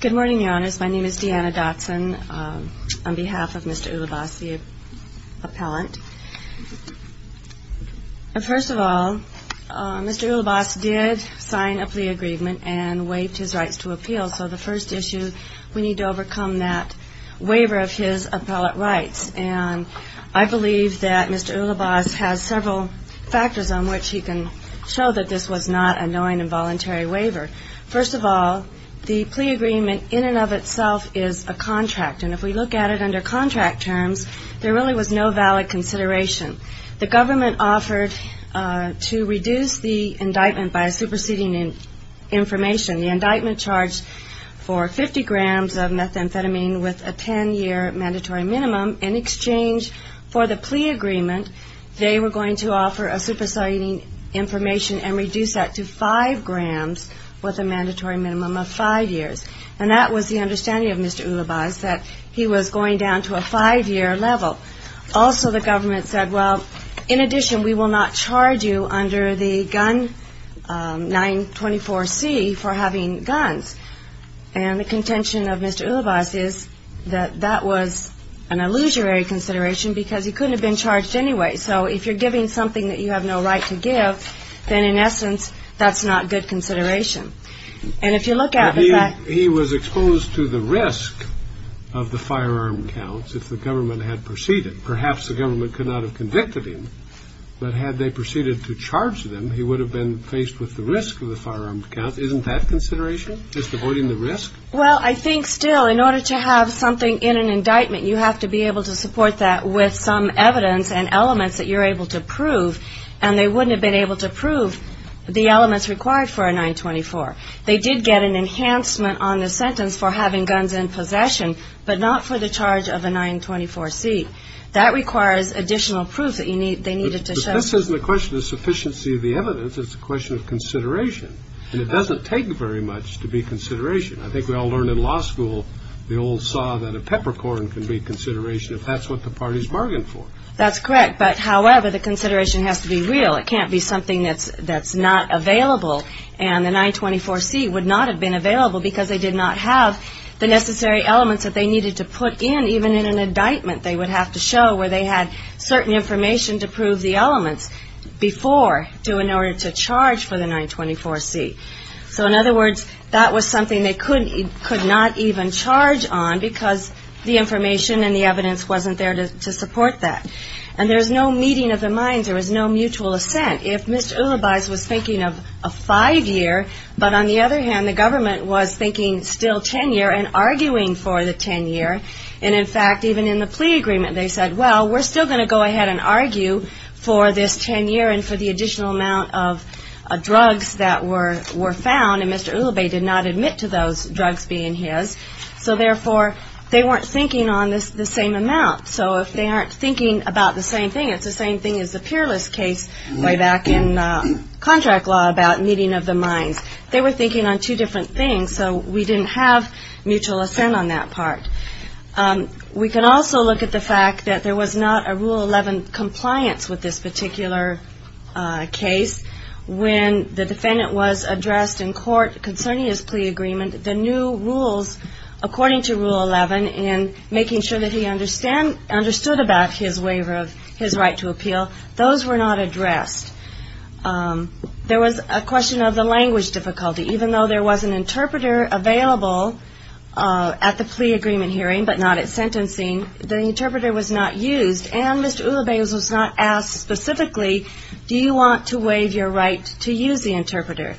Good morning, your honors. My name is Deanna Dotson. On behalf of Mr. Ulibas, the appellant, First of all, Mr. Ulibas did sign a plea agreement and waived his rights to appeal. So the first issue, we need to overcome that waiver of his appellate rights. And I believe that Mr. Ulibas has several factors on which he can show that this was not a knowing and voluntary waiver. First of all, the plea agreement in and of itself is a contract. And if we look at it under contract terms, there really was no valid consideration. The government offered to reduce the indictment by a superseding information. The indictment charged for 50 grams of methamphetamine with a 10-year mandatory minimum. In exchange for the plea agreement, they were going to offer a superseding information and reduce that to five grams with a mandatory minimum of five years. And that was the understanding of Mr. Ulibas, that he was going down to a five-year level. Also, the government said, well, in addition, we will not charge you under the gun 924C for having guns. And the contention of Mr. Ulibas is that that was an illusory consideration because he couldn't have been charged anyway. So if you're giving something that you have no right to give, then, in essence, that's not good consideration. And if you look at the fact He was exposed to the risk of the firearm counts if the government had proceeded. Perhaps the government could not have convicted him, but had they proceeded to charge them, he would have been faced with the risk of the firearm counts. Isn't that consideration? Just avoiding the risk? Well, I think still, in order to have something in an indictment, you have to be able to support that with some evidence and elements that you're able to prove. And they wouldn't have been able to prove the elements required for a 924. They did get an enhancement on the sentence for having guns in possession, but not for the charge of a 924C. That requires additional proof that they needed to show. But this isn't a question of sufficiency of the evidence. It's a question of consideration. And it doesn't take very much to be consideration. I think we all learned in law school, the old saw that a peppercorn can be consideration if that's what the parties bargained for. That's correct. But however, the consideration has to be real. It can't be something that's not available. And the 924C would not have been available because they did not have the necessary elements that they needed to put in, even in an indictment. They would have to show where they had certain information to prove the elements before, in order to charge for the 924C. So in other words, that was something they could not even charge on because the information and the evidence wasn't there to support that. And there's no meeting of the minds. There was no mutual assent. If Mr. Ulibas was thinking of a five-year, but on the other hand, the government was thinking still 10-year and arguing for the 10-year. And in fact, even in the plea agreement, they said, well, we're still going to go ahead and argue for this 10-year and for the additional amount of drugs that were found. And Mr. Ulibas did not admit to those drugs being his. So therefore, they weren't thinking on the same amount. So if they aren't thinking about the same thing, it's the same thing as the peerless case way back in contract law about meeting of the minds. They were thinking on two different things. So we didn't have mutual assent on that part. We can also look at the fact that there was not a Rule 11 compliance with this particular case. When the defendant was addressed in court concerning his plea agreement, the new rules according to Rule 11 and making sure that he understood about his waiver of his right to appeal, those were not addressed. There was a question of the language difficulty. Even though there was an interpreter available at the plea agreement hearing, but not at sentencing, the interpreter was not used and Mr. Ulibas was not asked specifically, do you want to waive your right to use the interpreter?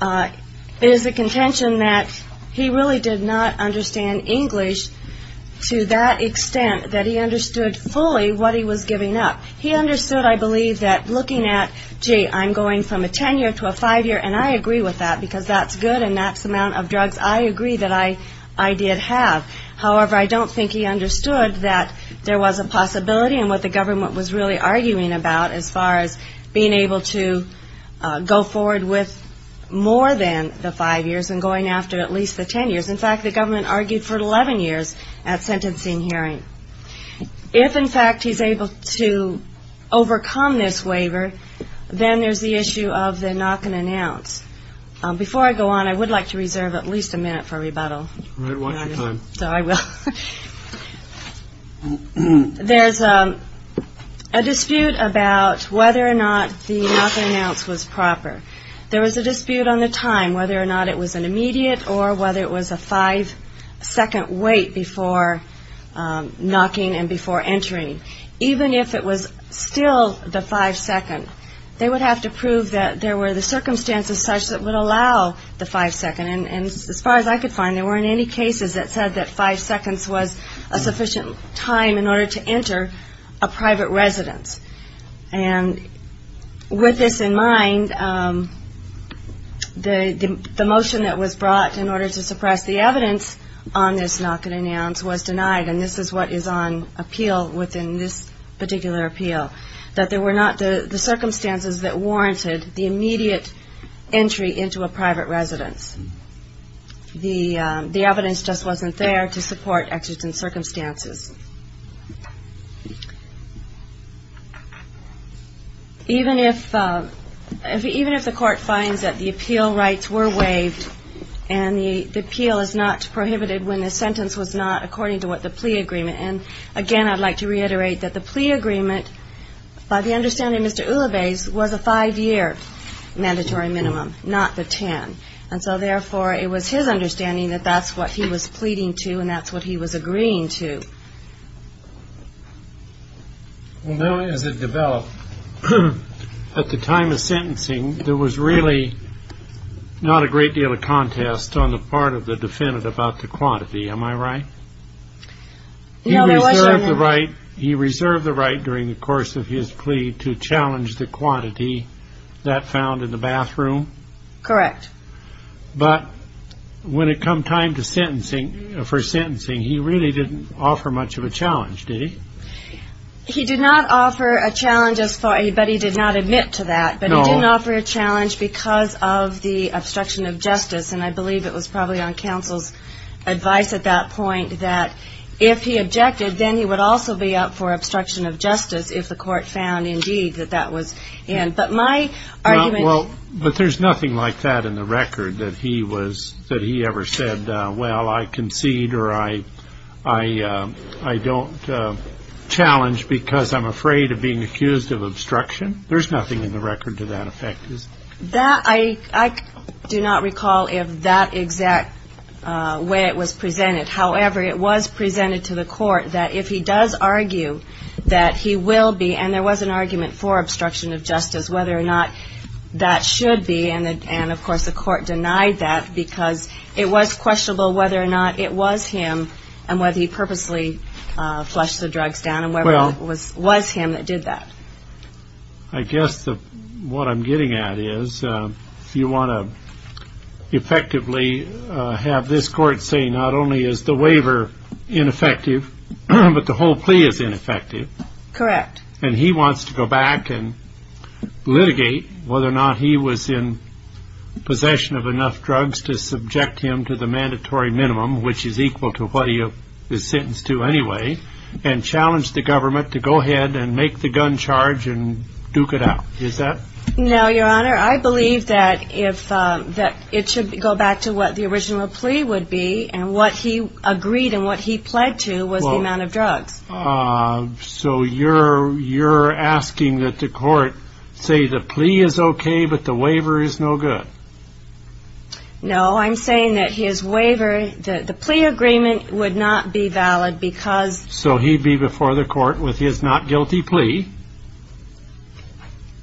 It is a contention that he really did not understand English to that extent that he understood fully what he was giving up. He understood, I believe, that looking at, gee, I'm going from a 10-year to a 5-year and I agree with that because that's good and that's the amount of drugs I agree that I did have. However, I don't think he understood that there was a possibility and what the government was arguing about as far as being able to go forward with more than the 5 years and going after at least the 10 years. In fact, the government argued for 11 years at sentencing hearing. If, in fact, he's able to overcome this waiver, then there's the issue of the knock and announce. Before I go on, I not the knock and announce was proper. There was a dispute on the time, whether or not it was an immediate or whether it was a 5-second wait before knocking and before entering. Even if it was still the 5-second, they would have to prove that there were the circumstances such that would allow the 5-second and as far as I could go on, there weren't any cases that said that 5 seconds was a sufficient time in order to enter a private residence. And with this in mind, the motion that was brought in order to suppress the evidence on this knock and announce was denied and this is what is on appeal within this particular appeal, that there were not the circumstances. Even if the court finds that the appeal rights were waived and the appeal is not prohibited when the sentence was not according to what the plea agreement. And again, I'd like to reiterate that the plea agreement, by the understanding of Mr. Ulavez, was a 5-year mandatory minimum, not the 10. And so therefore, it was his understanding that that's what he was pleading to and that's what he was agreeing to. Well, now as it developed, at the time of sentencing, there was really not a great deal of contest on the part of the defendant about the quantity, am I right? No, there wasn't. He reserved the right during the course of his plea to challenge the quantity that found in the bathroom? Correct. But when it come time for sentencing, he really didn't offer much of a challenge, did he? He did not offer a challenge, but he did not admit to that. But he didn't offer a challenge because of the obstruction of justice. And I believe it was probably on counsel's advice at that point that if he objected, then he would also be up for obstruction of justice if the court found indeed that that was in. But there's nothing like that in the record, that he ever said, well, I concede or I don't challenge because I'm afraid of being accused of obstruction? There's nothing in the record to that effect, is there? I do not recall if that exact way it was presented. However, it was presented to the court that if he does argue that he will be, and there was an that should be. And of course, the court denied that because it was questionable whether or not it was him and whether he purposely flushed the drugs down and whether it was him that did that. I guess what I'm getting at is you want to effectively have this court say not only is the waiver ineffective, but the whole plea is ineffective. Correct. And he wants to go back and litigate whether or not he was in possession of enough drugs to subject him to the mandatory minimum, which is equal to what he is sentenced to anyway, and challenge the government to go ahead and make the gun charge and duke it out. Is that? No, your honor. I believe that if that it should go back to what the original plea would be and what he agreed and what he pled to was the amount of drugs. So you're you're asking that the court say the plea is OK, but the waiver is no good. No, I'm saying that his waiver, the plea agreement would not be valid because. So he'd be before the court with his not guilty plea.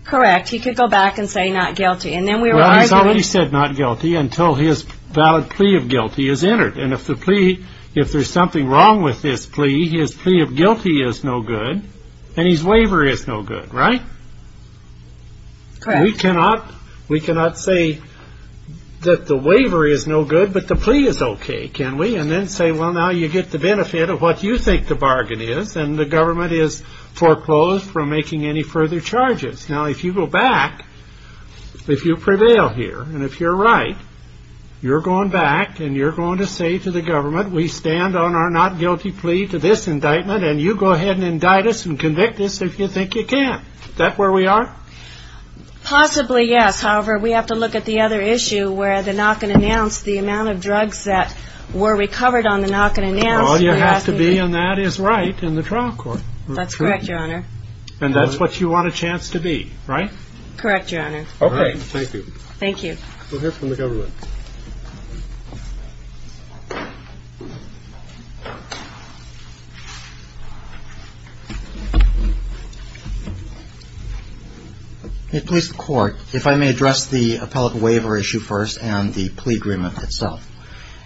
Correct. He could go back and say not guilty. And then we already said not guilty until his valid plea of guilty is entered. And if the plea if there's something wrong with this plea, his plea of guilty is no good and his waiver is no good. Right. We cannot we cannot say that the waiver is no good, but the plea is OK. Can we and then say, well, now you get the benefit of what you think the bargain is. And the government is foreclosed from making any further charges. Now, if you go back, if you prevail here and if you're right, you're going back and you're going to say to the government, we stand on our not guilty plea to this indictment and you go ahead and indict us and convict us if you think you can. That's where we are. Possibly, yes. However, we have to look at the other issue where the knock and announce the amount of drugs that were recovered on the knock and announce. You have to be and that is right in the trial court. That's correct, Your Honor. And that's what you want a chance to be right. Correct, Your Honor. OK, thank you. Thank you. We'll hear from the government. Please, the court, if I may address the appellate waiver issue first and the plea agreement itself.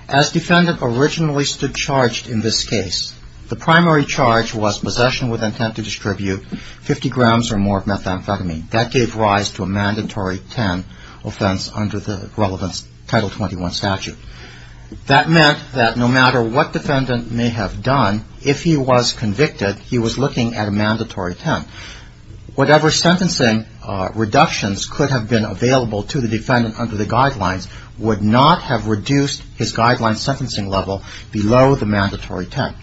As defendant originally stood charged in this case, the primary charge was possession with intent to distribute 50 grams or more of methamphetamine. That gave rise to a mandatory 10 offense under the relevance Title 21 statute. That meant that no matter what defendant may have done, if he was convicted, he was looking at a mandatory 10. Whatever sentencing reductions could have been available to the defendant under the guidelines would not have reduced his guideline sentencing level below the mandatory 10.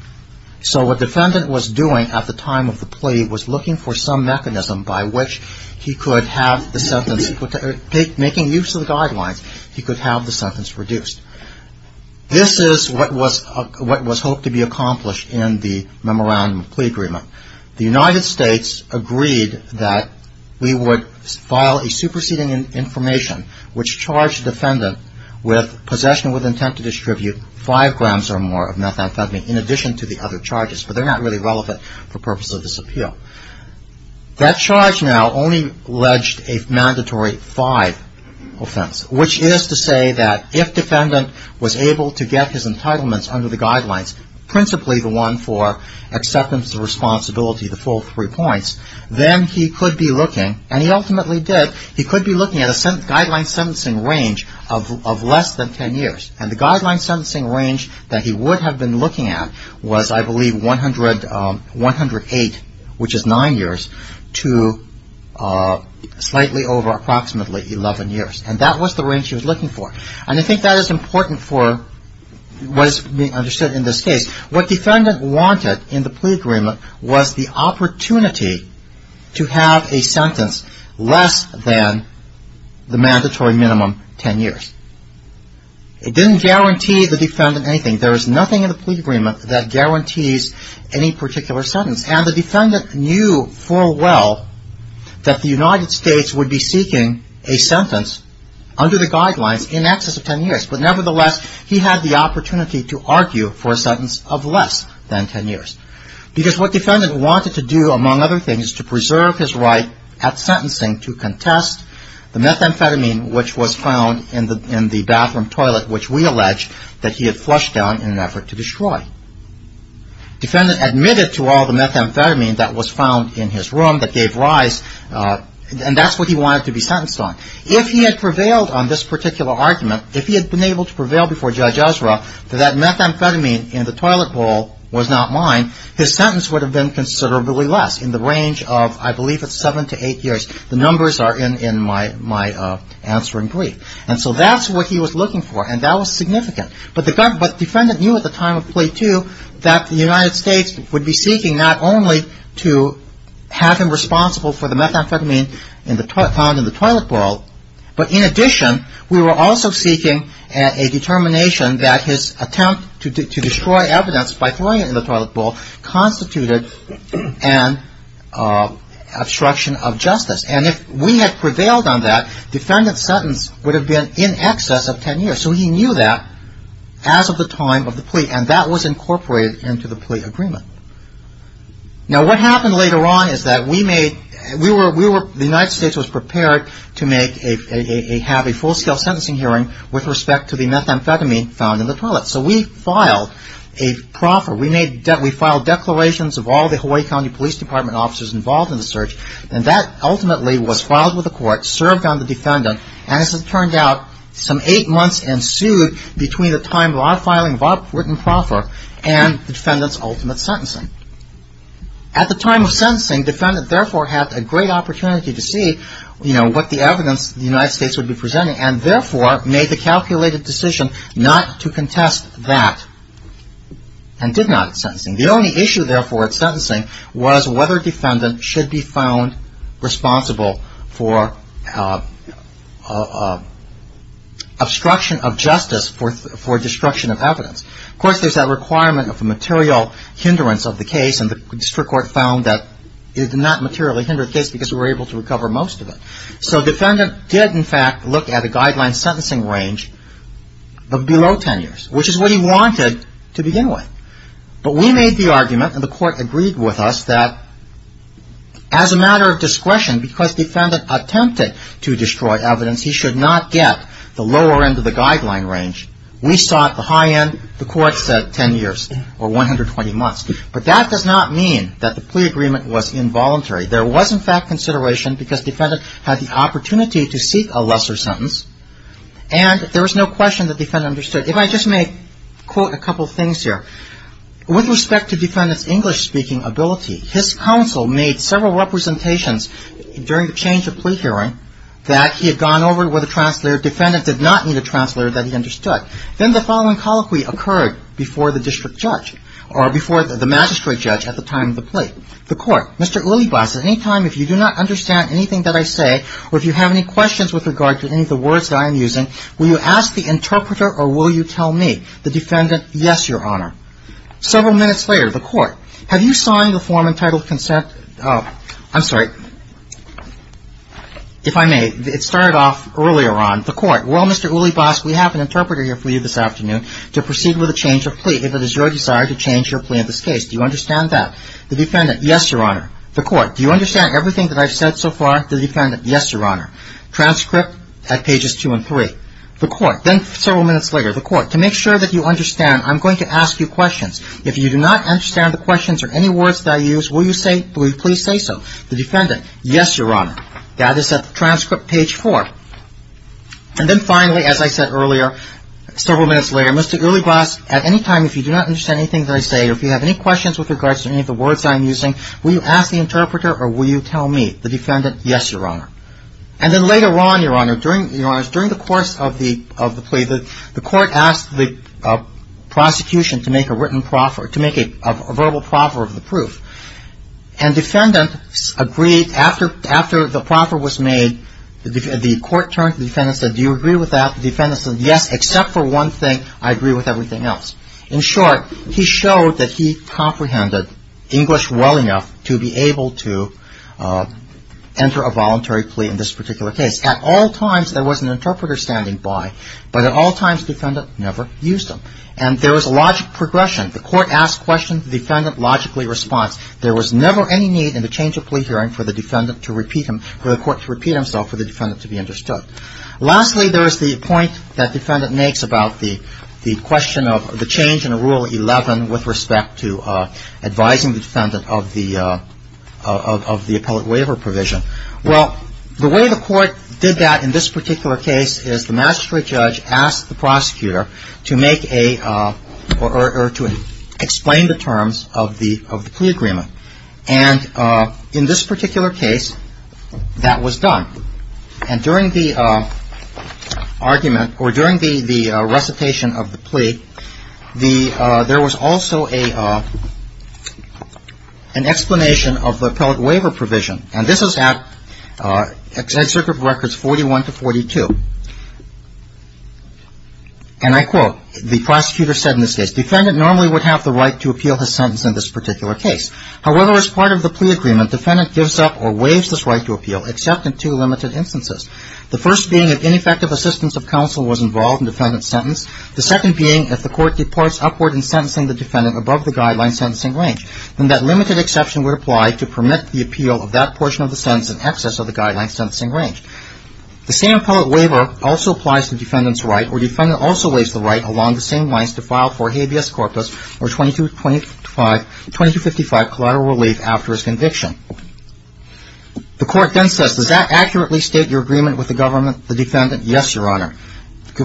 So what defendant was doing at the time of the plea was looking for some mechanism by which he could have the sentence, making use of the guidelines, he could have the sentence reduced. This is what was hoped to be accomplished in the memorandum of plea agreement. The United States agreed that we would file a superseding information which charged defendant with possession with intent to distribute 5 grams or more of methamphetamine in addition to the other charges. But they're not really relevant for purpose of this appeal. That charge now only alleged a mandatory 5 offense, which is to say that if defendant was able to get his entitlements under the guidelines, principally the one for acceptance of responsibility, the full three points, then he could be looking, and he ultimately did, he could be looking at a guideline sentencing range of less than 10 years. And the guideline sentencing range that he would have been looking at was, I believe, 108, which is 9 years, to slightly over approximately 11 years. And that was the range he was looking for. And I think that is important for what is being understood in this case. What defendant wanted in the plea agreement was the opportunity to have a sentence less than the mandatory minimum 10 years. It didn't guarantee the defendant anything. There is nothing in the plea agreement that guarantees any particular sentence. And the defendant knew full well that the United States would be seeking a sentence under the guidelines in excess of 10 years. But nevertheless, he had the opportunity to argue for a sentence of less than 10 years. Because what defendant wanted to do, among other things, is to preserve his right at sentencing to contest the methamphetamine which was found in the bathroom toilet, which we allege that he had flushed down in an effort to destroy. Defendant admitted to all the methamphetamine that was found in his room that gave rise. And that's what he wanted to be sentenced on. If he had prevailed on this particular argument, if he had been able to prevail before Judge Ezra that that methamphetamine in the toilet bowl was not mine, his sentence would have been considerably less in the range of, I believe, 7 to 8 years. The numbers are in my answering brief. And so that's what he was looking for, and that was significant. But the defendant knew at the time of plea two that the United States would be seeking not only to have him responsible for the methamphetamine found in the toilet bowl, but in addition, we were also seeking a determination that his attempt to destroy evidence by throwing it in the toilet bowl constituted an obstruction of justice. And if we had prevailed on that, defendant's sentence would have been in excess of 10 years. So he knew that as of the time of the plea, and that was incorporated into the plea agreement. Now, what happened later on is that the United States was prepared to have a full-scale sentencing hearing with respect to the methamphetamine found in the toilet. So we filed a proffer. We filed declarations of all the Hawaii County Police Department officers involved in the search, and that ultimately was filed with the court, served on the defendant, and as it turned out, some eight months ensued between the time of our filing of our written proffer and the defendant's ultimate sentencing. At the time of sentencing, defendant therefore had a great opportunity to see what the evidence the United States would be presenting, and therefore made the calculated decision not to contest that. And did not at sentencing. The only issue, therefore, at sentencing was whether defendant should be found responsible for obstruction of justice for destruction of evidence. Of course, there's that requirement of a material hindrance of the case, and the district court found that it did not materially hinder the case because we were able to recover most of it. So defendant did, in fact, look at a guideline sentencing range of below 10 years, which is what he wanted. But we made the argument, and the court agreed with us, that as a matter of discretion, because defendant attempted to destroy evidence, he should not get the lower end of the guideline range. We sought the high end, the court said 10 years or 120 months. But that does not mean that the plea agreement was involuntary. There was, in fact, consideration because defendant had the opportunity to seek a lesser sentence, and there was no question that defendant understood. If I just may quote a couple things here. With respect to defendant's English-speaking ability, his counsel made several representations during the change of plea hearing that he had gone over with a translator. Defendant did not need a translator that he understood. Then the following colloquy occurred before the district judge or before the magistrate judge at the time of the plea. The court, Mr. Ulibas, at any time, if you do not understand anything that I say or if you have any questions with regard to any of the words that I am using, will you ask the interpreter or will you tell me? The defendant, yes, Your Honor. Several minutes later, the court, have you signed the form entitled consent? I'm sorry, if I may, it started off earlier on. The court, well, Mr. Ulibas, we have an interpreter here for you this afternoon to proceed with a change of plea if it is your desire to change your plea in this case. Do you understand that? The defendant, yes, Your Honor. The court, do you understand everything that I've said so far? The defendant, yes, Your Honor. The court, then several minutes later, the court, to make sure that you understand, I'm going to ask you questions. If you do not understand the questions or any words that I use, will you please say so? The defendant, yes, Your Honor. And then finally, as I said earlier, several minutes later, Mr. Ulibas, at any time, if you do not understand anything that I say or if you have any questions with regard to any of the words that I am using, will you ask the interpreter or will you tell me? The defendant, yes, Your Honor. And then later on, Your Honor, during the course of the plea, the court asked the prosecution to make a written proffer, to make a verbal proffer of the proof. And defendant agreed. After the proffer was made, the court turned to the defendant and said, do you agree with that? The defendant said, yes, except for one thing, I agree with everything else. In short, he showed that he comprehended English well enough to be able to enter a voluntary plea in this particular case. At all times, there was an interpreter standing by, but at all times, the defendant never used him. And there was a logic progression. The court asked questions, the defendant logically responded. There was never any need in the change of plea hearing for the defendant to repeat him, for the court to repeat himself, for the defendant to be understood. Lastly, there is the point that the defendant makes about the question of the change in Rule 11 with respect to advising the defendant of the appellate waiver provision. Well, the way the court did that in this particular case is the magistrate judge asked the prosecutor to make a, or to explain the terms of the plea agreement. And in this particular case, that was done. And during the argument, or during the recitation of the plea, there was also an explanation of the appellate waiver provision. And this is at Executive Records 41 to 42. And I quote, the prosecutor said in this case, defendant normally would have the right to appeal his sentence in this particular case. However, as part of the plea agreement, defendant gives up or waives this right to appeal, except in two limited instances. The first being if ineffective assistance of counsel was involved in defendant's sentence. The second being if the court departs upward in sentencing the defendant above the guideline sentencing range. And that limited exception would apply to permit the appeal of that portion of the sentence in excess of the guideline sentencing range. The same appellate waiver also applies to defendant's right, or defendant also waives the right along the same lines to file for habeas corpus or 2255 collateral relief after his conviction. The court then says, does that accurately state your agreement with the government, the defendant? Yes, Your Honor. I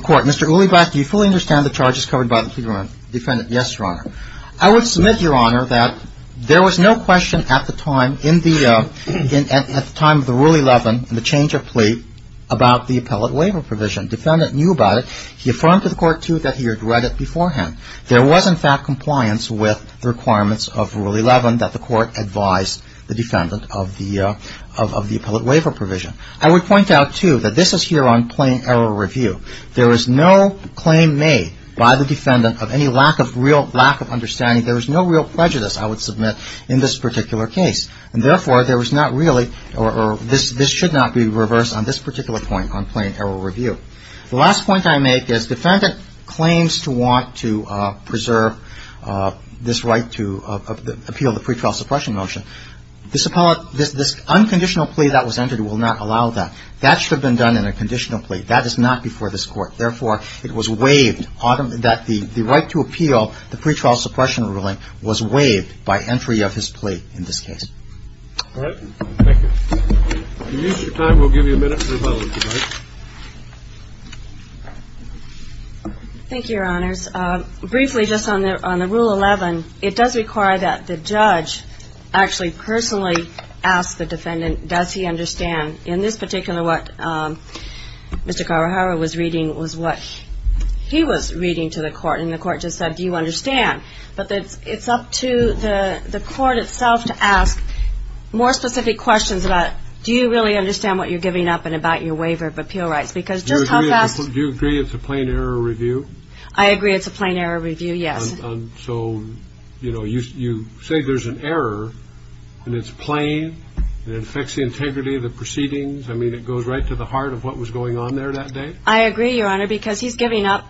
would submit, Your Honor, that there was no question at the time, at the time of the Rule 11, the change of plea, about the appellate waiver provision. Defendant knew about it. He affirmed to the court, too, that he had read it beforehand. There was, in fact, compliance with the requirements of Rule 11 that the court advise the defendant of the appellate waiver provision. I would point out, too, that this is here on plain error review. There is no claim made by the defendant of any lack of real lack of understanding. There is no real prejudice, I would submit, in this particular case. And, therefore, there was not really, or this should not be reversed on this particular point on plain error review. The last point I make is defendant claims to want to preserve this right to appeal the pretrial suppression motion. This unconditional plea that was entered will not allow that. That should have been done in a conditional plea. That is not before this Court. Therefore, it was waived, that the right to appeal the pretrial suppression ruling was waived by entry of his plea in this case. All right. Thank you. If you'll use your time, we'll give you a minute for the following debate. Thank you, Your Honors. Briefly, just on the Rule 11, it does require that the judge actually personally ask the defendant, does he understand. In this particular, what Mr. Kawahara was reading was what he was reading to the court. And the court just said, do you understand? But it's up to the court itself to ask more specific questions about, do you really understand what you're giving up and about your waiver of appeal rights? Do you agree it's a plain error review? I agree it's a plain error review, yes. So, you know, you say there's an error, and it's plain, and it affects the integrity of the proceedings. I mean, it goes right to the heart of what was going on there that day. I agree, Your Honor, because he's giving up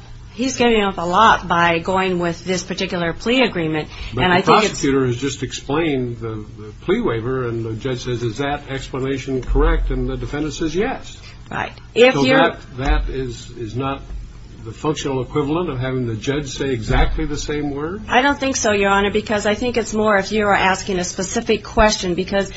a lot by going with this particular plea agreement. But the prosecutor has just explained the plea waiver, and the judge says, is that explanation correct? And the defendant says, yes. I don't think so, Your Honor, because I think it's more if you are asking a specific question, because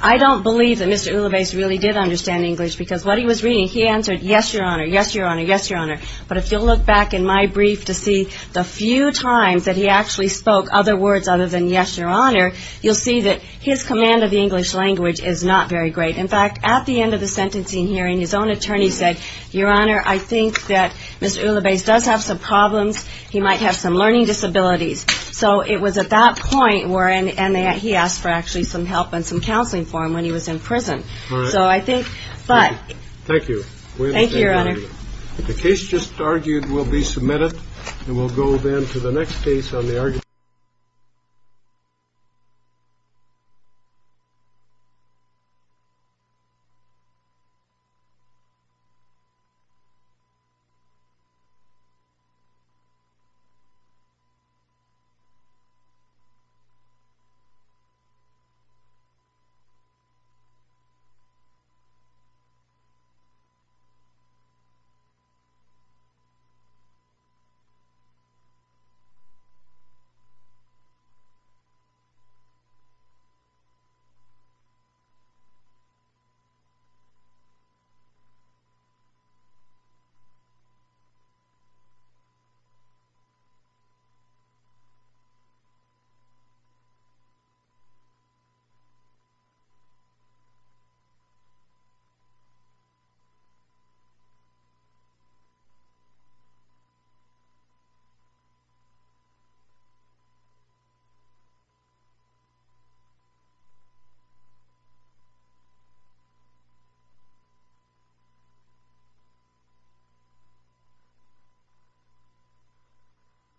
I don't believe that Mr. Uloves really did understand English, because what he was reading, he answered, yes, Your Honor, yes, Your Honor, yes, Your Honor. But if you'll look back in my brief to see the few times that he actually spoke other words other than yes, Your Honor, you'll see that his command of the English language is not very great. In fact, at the end of the sentencing hearing, his own attorney said, Your Honor, I think that Mr. Uloves does have some problems. He might have some learning disabilities. So it was at that point where he asked for actually some help and some counseling for him when he was in prison. All right. So I think, but. Thank you. Thank you, Your Honor. The case just argued will be submitted. Thank you. Thank you.